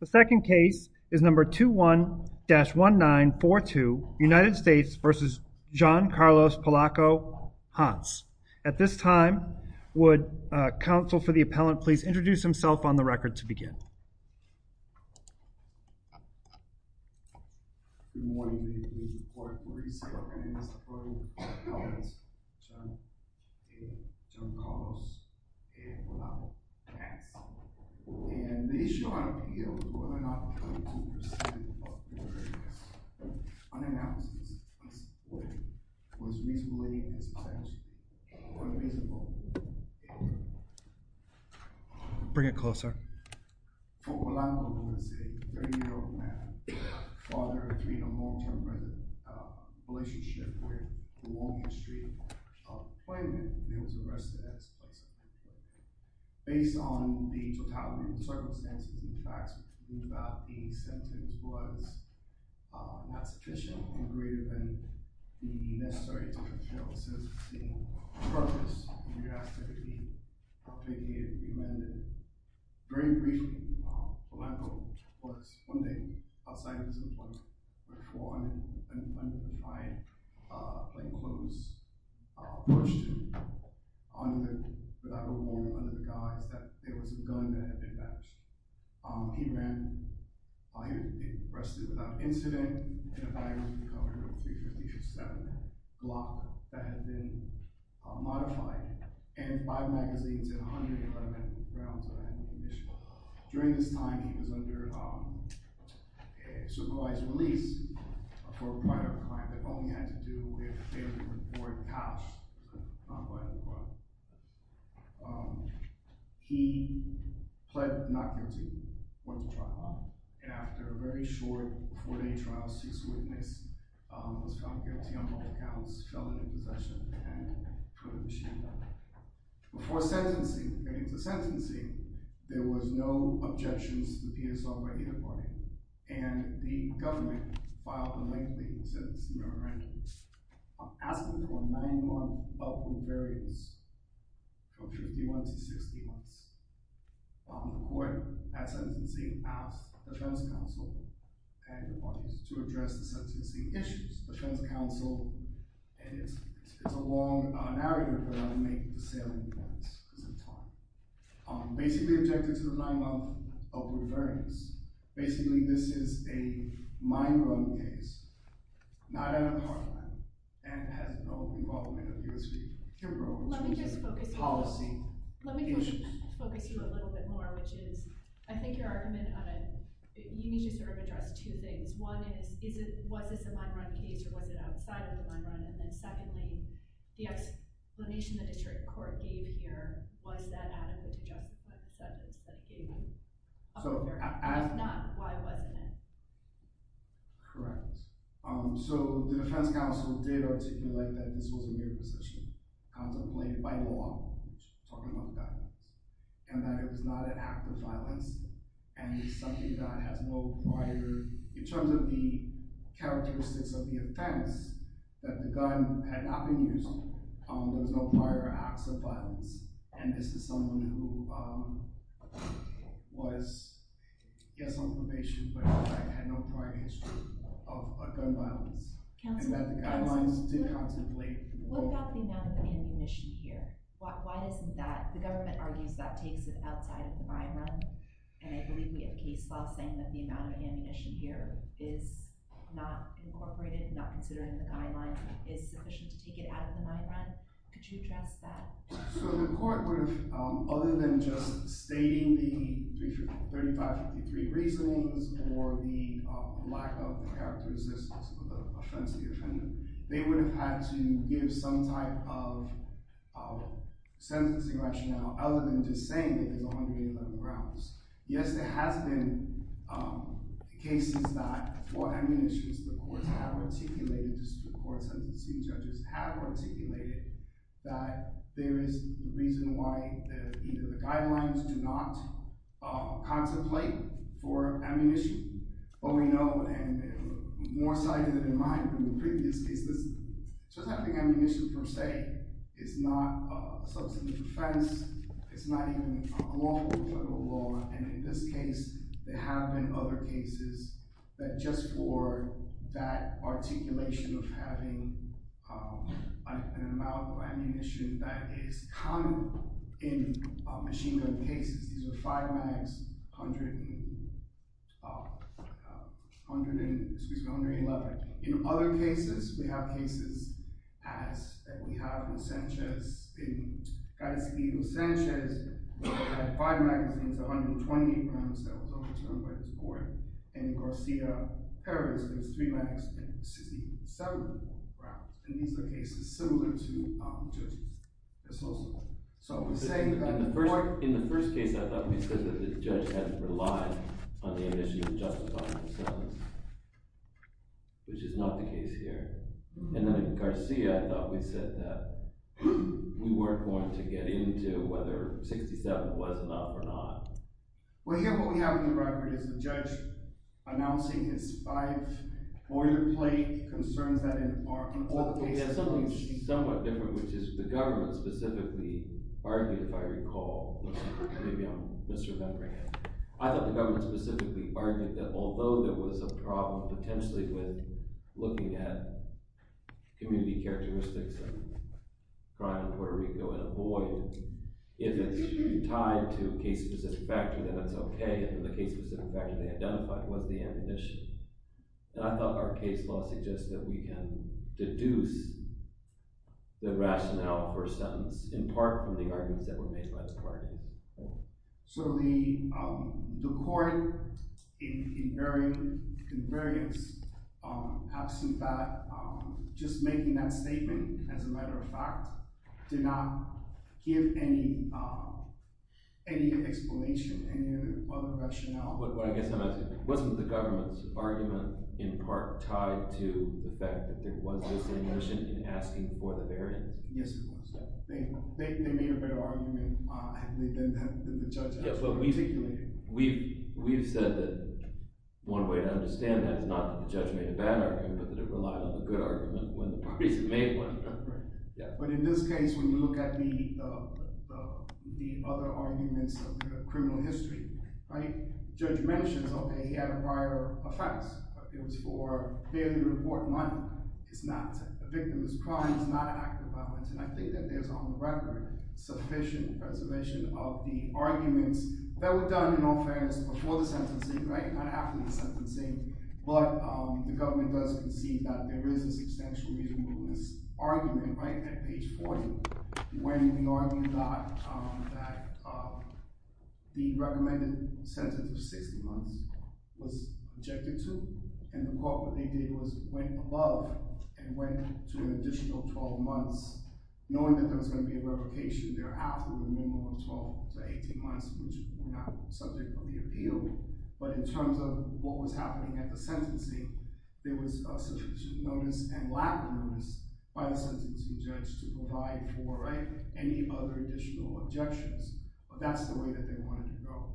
The second case is number 21-1942 United States v. John Carlos Polaco-Hance. At this time, would counsel for the appellant please introduce himself on the record to begin. Good morning. My name is John Carlos Polaco-Hance, and the issue I want to appeal is whether or not the 22% of the appellant's unannounced testimony was reasonable in his defense or invisible Bring it closer. For Polaco, who is a 30-year-old man, father of three in a long-term relationship with the Walgreens Street employment, he was arrested as a bystander. Based on the totality of the circumstances and facts, we conclude that the sentence was not sufficient and greater than the necessary to fulfill the sentencing purpose. We ask that he be remanded. Very briefly, Polaco was, one day, outside of his employment. He was four hundred and twenty-five, plainclothes, pushed without remorse under the guise that there was a gun that had been batched. He ran. He was arrested without incident. He was in a bag with the color of .357 Glock that had been modified and five magazines and a hundred environmental grounds on it. During this time, he was under supervised release for a prior crime that only had to do with a report patched by the court. He pled not guilty, went to trial, and after a very short four-day trial, ceased witness, was found guilty on both counts, fell into possession, and put on a machine gun. Before sentencing, there was no objections to the PSR by either party, and the government filed a lengthy sentencing memorandum. Asking for a nine-month open variance from 51 to 60 months. The court, at sentencing, asked the defense counsel and the bodies to address the sentencing issues. The defense counsel, and it's a long narrative, but I'll make the salient points because of time, basically objected to the nine-month open variance. Basically, this is a mine run case, not out of Parliament, and has no involvement of U.S. Supreme Court. Let me just focus you a little bit more, which is, I think your argument, you need to sort of address two things. One is, was this a mine run case or was it outside of the mine run? And then secondly, the explanation the district court gave here, was that adequate to justify the sentence that it gave him? If not, why wasn't it? Correct. So, the defense counsel did articulate that this was a mere position, contemplated by law, talking about violence, and that it was not an act of violence, and it's something that has no prior, in terms of the characteristics of the offense, that the gun had not been Yes, on probation, but had no prior history of gun violence. And that the guidelines did contemplate. What about the amount of ammunition here? Why isn't that, the government argues that takes it outside of the mine run, and I believe we have case law saying that the amount of ammunition here is not incorporated, not considered in the guidelines, is sufficient to take it out of the mine run. Could you address that? So, the court would have, other than just stating the 3553 reasonings, or the lack of the characteristics of the offense of the offender, they would have had to give some type of sentencing rationale, other than just saying that there's 181 grounds. Yes, there has been cases that, for ammunition, the courts have articulated, district court there is a reason why either the guidelines do not contemplate for ammunition, but we know, and more cited in mind from the previous cases, that just having ammunition per se is not a substantive offense, it's not even a lawful federal law, and in this case, there have been other cases that just for that articulation of having an amount of ammunition that is common in machine gun cases, these are 5 mags, excuse me, 111. In other cases, we have cases as we have Losanchez, in Gatsby, Losanchez had 5 magazines, 128 rounds that was overturned by this court. In Garcia, Perez, there was 3 mags, 67 rounds, and these are cases similar to judges. In the first case, I thought we said that the judge had to rely on the ammunition to justify the sentence, which is not the case here. And then in Garcia, I thought we said that we weren't going to get into whether 67 was enough or not. Well, here what we have in the record is the judge announcing his 5 order plate concerns Well, we have something somewhat different, which is the government specifically argued, if I recall, maybe I'm misremembering it, I thought the government specifically argued that although there was a problem potentially with looking at community characteristics of crime in Puerto Rico in a void, if it's tied to a case-specific factor, then that's okay, if the case-specific factor they identified was the ammunition. And I thought our case law suggested that we can deduce the rationale for a sentence in part from the arguments that were made by the parties. So the court in various absence of that, just making that statement as a matter of fact, did not give any explanation, any other rationale. I guess I'm asking, wasn't the government's argument in part tied to the fact that there was this ammunition in asking for the variance? Yes, it was. They made a better argument than the judge actually articulated. We've said that one way to understand that is not that the judge made a bad argument, but that it relied on a good argument when the parties made one. But in this case, when you look at the other arguments of criminal history, the judge mentions okay, he had a prior offense. It was for failure to report money. It's not a victimless crime. It's not an act of violence. And I think that there's on the record sufficient preservation of the arguments that were done in all fairness before the sentencing, not after the sentencing. But the government does concede that there is an existential reason for this argument right at page 40, when the argument that the recommended sentence of 60 months was objected to, and the court what they did was went above and went to an additional 12 months, knowing that there was going to be a revocation thereafter with a minimum of 12 to 18 months, which would have been subject of the appeal. But in terms of what was happening at the sentencing, there was sufficient notice and lack of notice by the sentencing judge to provide for any other additional objections. But that's the way that they wanted to go.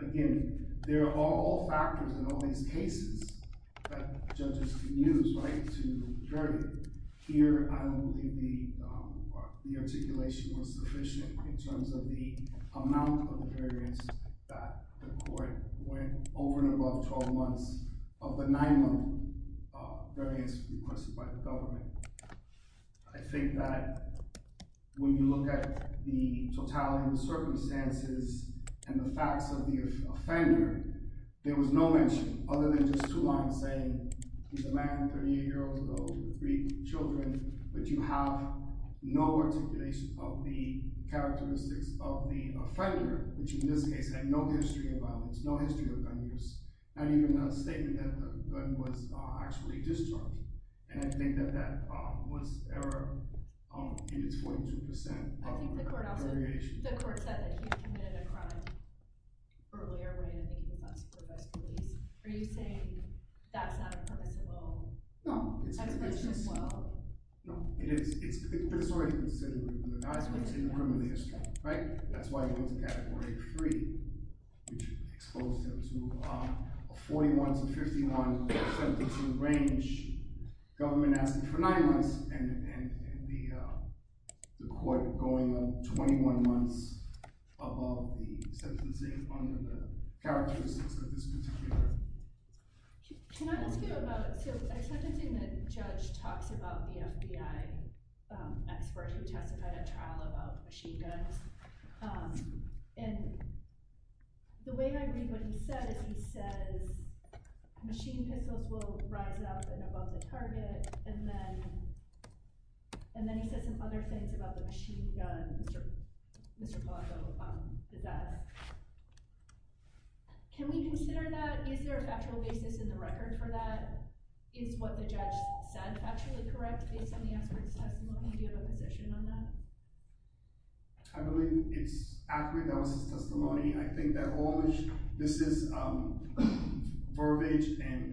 Again, there are all factors in all these cases that judges can use to judge. Here, I don't think the articulation was sufficient in terms of the amount of variance that the court went over and above 12 months of the nine-month variance requested by the government. I think that when you look at the totality of the circumstances and the facts of the offender, there was no mention other than just two lines saying, he's a man 38 years old with three children. But you have no articulation of the characteristics of the offender, which in this case had no history of violence, no history of gun use, not even a statement that the gun was actually discharged. And I think that that was error in its 42% of variations. I think the court also, the court said that he had committed a crime earlier when I think he was on supervised police. Are you saying that's not a permissible? No. No. It is. But it's already been said that he was an assassin. It's in the rim of the history. Right? That's why he went to Category 3, which exposed him to a 41 to 51 sentencing range. Government asked him for nine months, and the court going 21 months above the sentencing under the characteristics of this particular case. Can I ask you about, so I started seeing the judge talks about the FBI expert who testified at trial about machine guns. And the way I read what he said is he says, machine pistols will rise up and above the target. And then he said some other things about the machine gun. Mr. Polanco did that. Can we consider that? Is there a factual basis in the record for that? Is what the judge said actually correct based on the expert's testimony? Do you have a position on that? I believe it's accurate. That was his testimony. I think that all this is verbiage and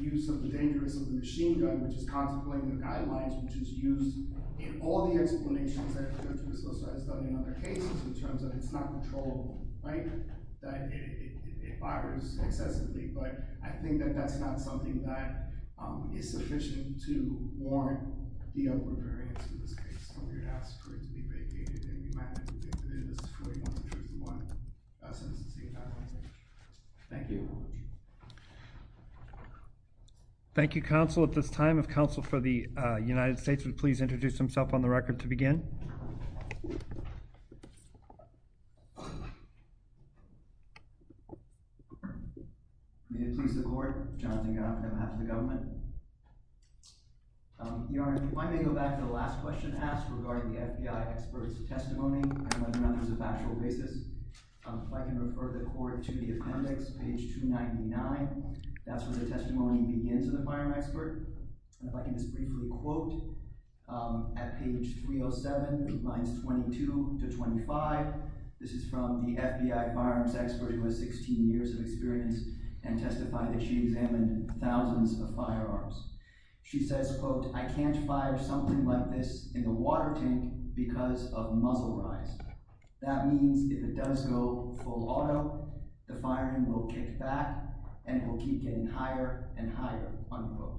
use of the dangerous of the machine gun, which is contemplating the guidelines, which is used in all the explanations that have been discussed in other cases in terms of it's not controllable, right? That it fires excessively. But I think that that's not something that is sufficient to warrant the over-variance of this case. So we would ask for it to be vacated. And we might have to do this for a 41 to 51 sentencing. Thank you. Thank you. Thank you, counsel. At this time, if counsel for the United States would please introduce himself on the record to begin. Please. May it please the court. Jonathan Young on behalf of the government. Your Honor, if I may go back to the last question asked regarding the FBI expert's testimony. I don't know if there's a factual basis. If I can refer the court to the appendix, page 299. That's where the testimony begins in the firearm expert. If I can just briefly quote at page 307, lines 22 to 25. This is from the FBI firearms expert who has 16 years of experience and testified that she examined thousands of firearms. She says, quote, I can't fire something like this in the water tank because of muzzle rise. That means if it does go full auto, the firing will kick back and it will keep getting higher and higher, unquote.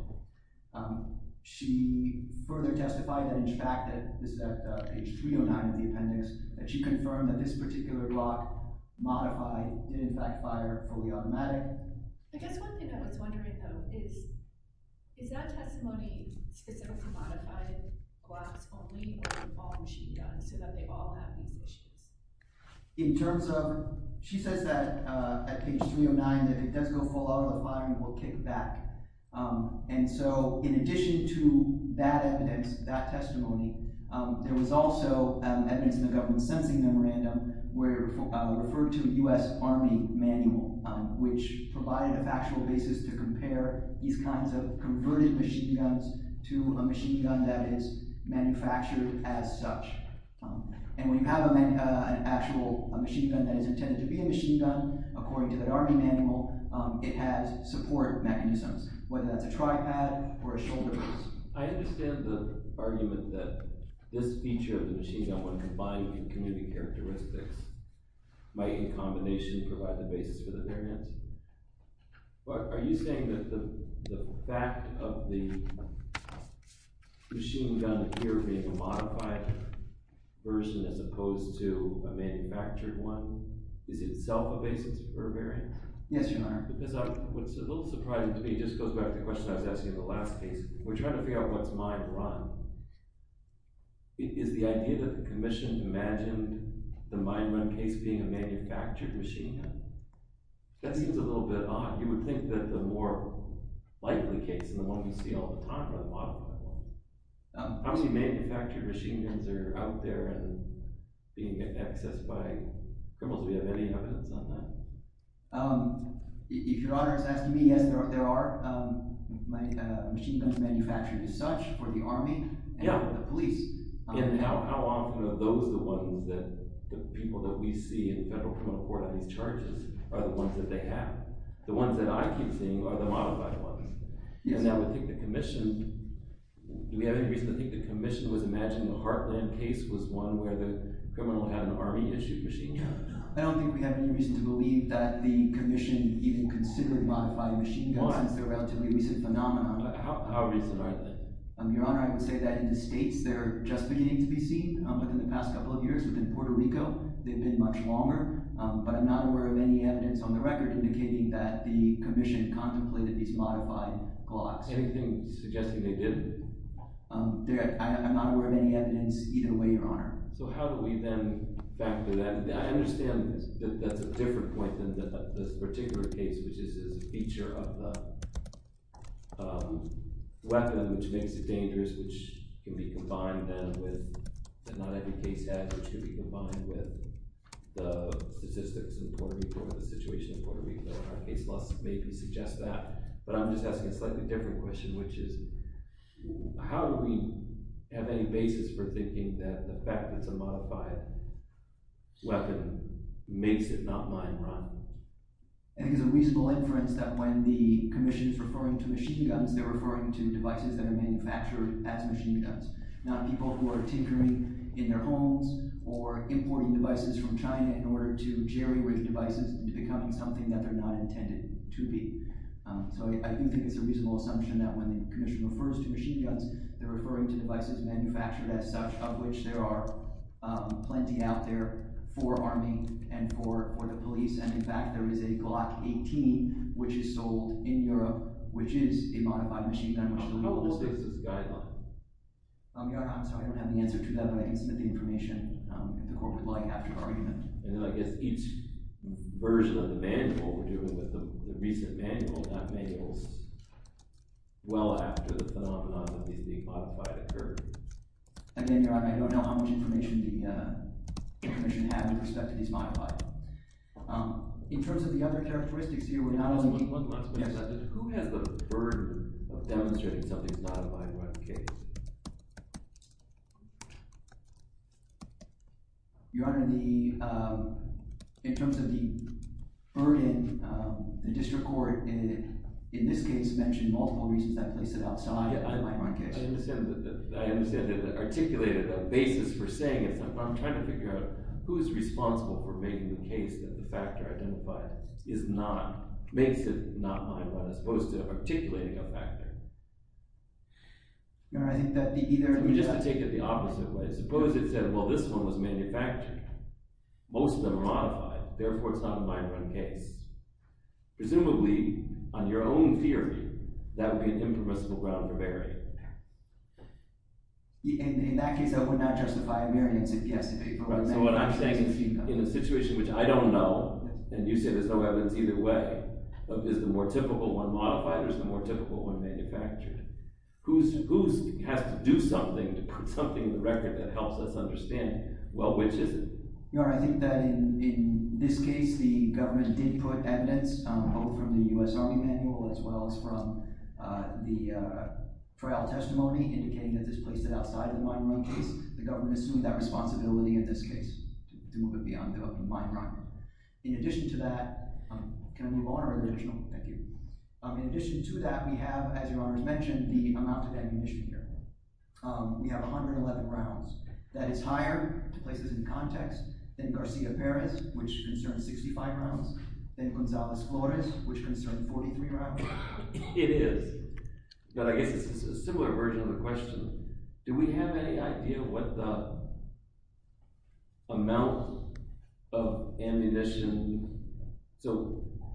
She further testified that in fact, this is at page 309 of the appendix, that she confirmed that this particular block modified did in fact fire fully automatic. I guess one thing I was wondering though is, is that testimony specific to modified blocks only or all machine guns so that they all have these issues? In terms of, she says that at page 309 that if it does go full auto, the firing will kick back. And so in addition to that evidence, that testimony, there was also evidence in the government sensing memorandum where it referred to a U.S. Army manual which provided a factual basis to compare these kinds of converted machine guns to a machine gun that is manufactured as such. And when you have an actual machine gun that is intended to be a machine gun, according to that Army manual, it has support mechanisms, whether that's a tripod or a shoulder brace. I understand the argument that this feature of the machine gun when combined with community characteristics might in combination provide the basis for the variance. But are you saying that the fact of the machine gun here being a modified version as opposed to a manufactured one is itself a basis for a variance? Yes, Your Honor. Because what's a little surprising to me just goes back to the question I was asking in the last case. We're trying to figure out what's mine run. Is the idea that the commission imagined the mine run case being a manufactured machine gun? That seems a little bit odd. You would think that the more likely case and the one you see all the time are the modified ones. How many manufactured machine guns are out there and being accessed by criminals? Do we have any evidence on that? If Your Honor is asking me, yes, there are. Machine guns manufactured as such for the Army and the police. And how often are those the ones that the people that we see in federal criminal court on these charges are the ones that they have? The ones that I keep seeing are the modified ones. Yes, Your Honor. And I would think the commission, do we have any reason to think the commission was imagining the heartland case was one where the criminal had an Army-issued machine gun? I don't think we have any reason to believe that the commission even considered modified machine guns since they're a relatively recent phenomenon. How recent are they? Your Honor, I would say that in the States they're just beginning to be seen. Within the past couple of years, within Puerto Rico, they've been much longer. But I'm not aware of any evidence on the record indicating that the commission contemplated these modified Glocks. Anything suggesting they did? I'm not aware of any evidence either way, Your Honor. So how do we then factor that? I understand that's a different point than this particular case, which is a feature of the weapon, which makes it dangerous, which can be combined then with the non-heavy case head, which can be combined with the statistics in Puerto Rico or the situation in Puerto Rico. Our case laws maybe suggest that. But I'm just asking a slightly different question, which is, how do we have any basis for thinking that the fact that it's a modified weapon makes it not mine, Ron? I think it's a reasonable inference that when the commission is referring to machine guns, they're referring to devices that are manufactured as machine guns, not people who are tinkering in their homes or importing devices from China in order to jerry-rig devices into becoming something that they're not intended to be. So I do think it's a reasonable assumption that when the commission refers to machine guns, they're referring to devices manufactured as such, of which there are plenty out there for arming and for the police. And in fact, there is a Glock 18, which is sold in Europe, which is a modified machine gun. How old is this guy, Ron? Ron, I'm sorry, I don't have the answer to that, but I can submit the information if the court would like after the argument. And then I guess each version of the manual we're dealing with, the recent manual, that may be well after the phenomenon of these being modified occurred. Again, Your Honor, I don't know how much information the commission had with respect to these modified ones. In terms of the other characteristics here, we're not only— One last question, Your Honor. Who has the burden of demonstrating something's modified by what case? Your Honor, in terms of the burden, the district court in this case mentioned multiple reasons that place it outside by what case. I understand that they articulated a basis for saying it, but I'm trying to figure out who's responsible for making the case that the factor identified makes it not mine run as opposed to articulating a factor. Your Honor, I think that the either— Let me just take it the opposite way. Suppose it said, well, this one was manufactured. Most of them are modified. Therefore, it's not a mine run case. Presumably, on your own theory, that would be an impermissible ground to bury. So what I'm saying is, in a situation which I don't know, and you say there's no evidence either way, is the more typical one modified or is the more typical one manufactured? Who has to do something to put something in the record that helps us understand, well, which is it? Your Honor, I think that in this case, the government did put evidence, both from the U.S. Army manual as well as from the trial testimony, indicating that this place it outside of the mine run case. The government assumed that responsibility in this case to move it beyond the mine run. In addition to that—can I move on or additional? Thank you. In addition to that, we have, as Your Honor has mentioned, the amount of ammunition here. We have 111 rounds. That is higher, places in context, than Garcia Perez, which concerns 65 rounds, than Gonzalez Flores, which concerns 43 rounds. It is. But I guess it's a similar version of the question. Do we have any idea what the amount of ammunition—so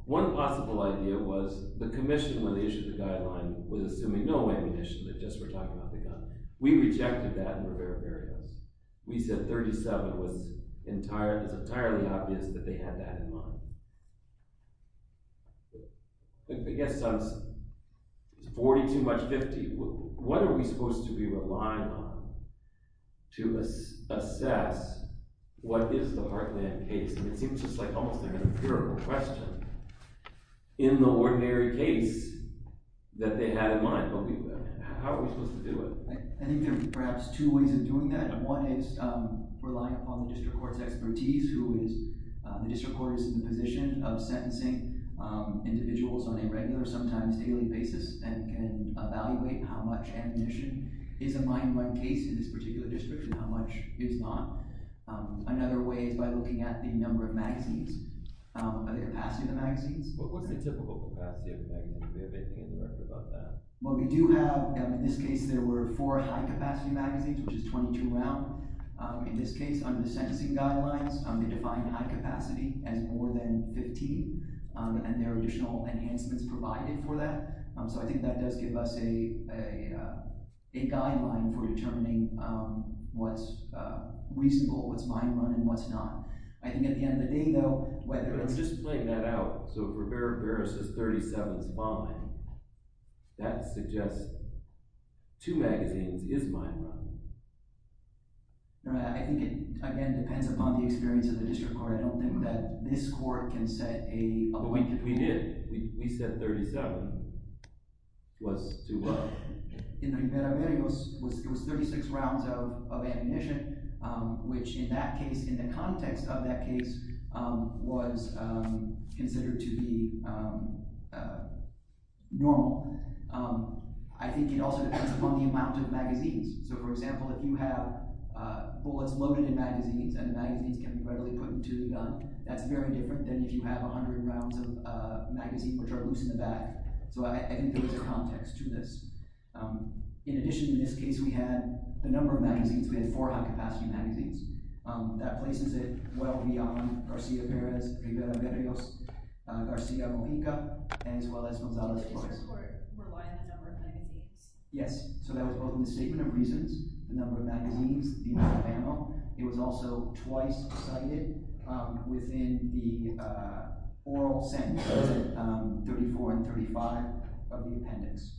one possible idea was the commission, when we got—we rejected that in a number of areas. We said 37 was entirely obvious that they had that in mind. I guess 40 too much 50. What are we supposed to be relying on to assess what is the Heartland case? It seems just like almost an inferior question in the ordinary case that they had in mind. I don't believe that. How are we supposed to do it? I think there are perhaps two ways of doing that. One is relying upon the district court's expertise, who is—the district court is in the position of sentencing individuals on a regular, sometimes daily basis, and can evaluate how much ammunition is a mine run case in this particular district and how much is not. Another way is by looking at the number of magazines, the capacity of the magazines. What's the typical capacity of a magazine? Do we have anything in the record about that? Well, we do have—in this case, there were four high-capacity magazines, which is 22 round. In this case, under the sentencing guidelines, they defined high capacity as more than 15, and there are additional enhancements provided for that. So I think that does give us a guideline for determining what's reasonable, what's mine run, and what's not. I think at the end of the day, though, whether it's— That suggests two magazines is mine run. I think it, again, depends upon the experience of the district court. I don't think that this court can set a— But we did. We said 37 was too low. In the Rivera-Vera, it was 36 rounds of ammunition, which in that case, in the context of that I think it also depends upon the amount of magazines. So, for example, if you have bullets loaded in magazines, and the magazines can be readily put into the gun, that's very different than if you have 100 rounds of magazine, which are loose in the back. So I think there's a context to this. In addition, in this case, we had the number of magazines. We had four high-capacity magazines. That places it well beyond Garcia Perez, Rivera Berrios, Garcia Mojica, as well as Gonzales Flores. Does the district court rely on the number of magazines? Yes. So that was both in the statement of reasons, the number of magazines, the amount of ammo. It was also twice cited within the oral sentence, 34 and 35 of the appendix.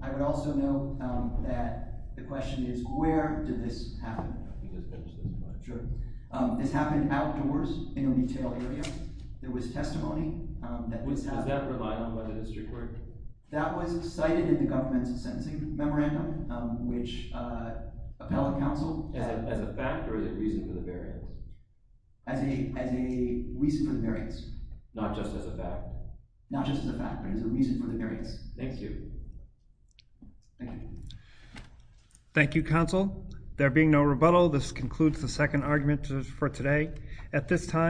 I would also note that the question is, where did this happen? Can you just finish this slide? Sure. This happened outdoors in a retail area. There was testimony that this happened— Does that rely on what the district court—? That was cited in the government's sentencing memorandum, which appellate counsel— As a fact or as a reason for the variance? As a reason for the variance. Not just as a fact? Not just as a fact, but as a reason for the variance. Thank you. Thank you. Thank you, counsel. There being no rebuttal, this concludes the second argument for today.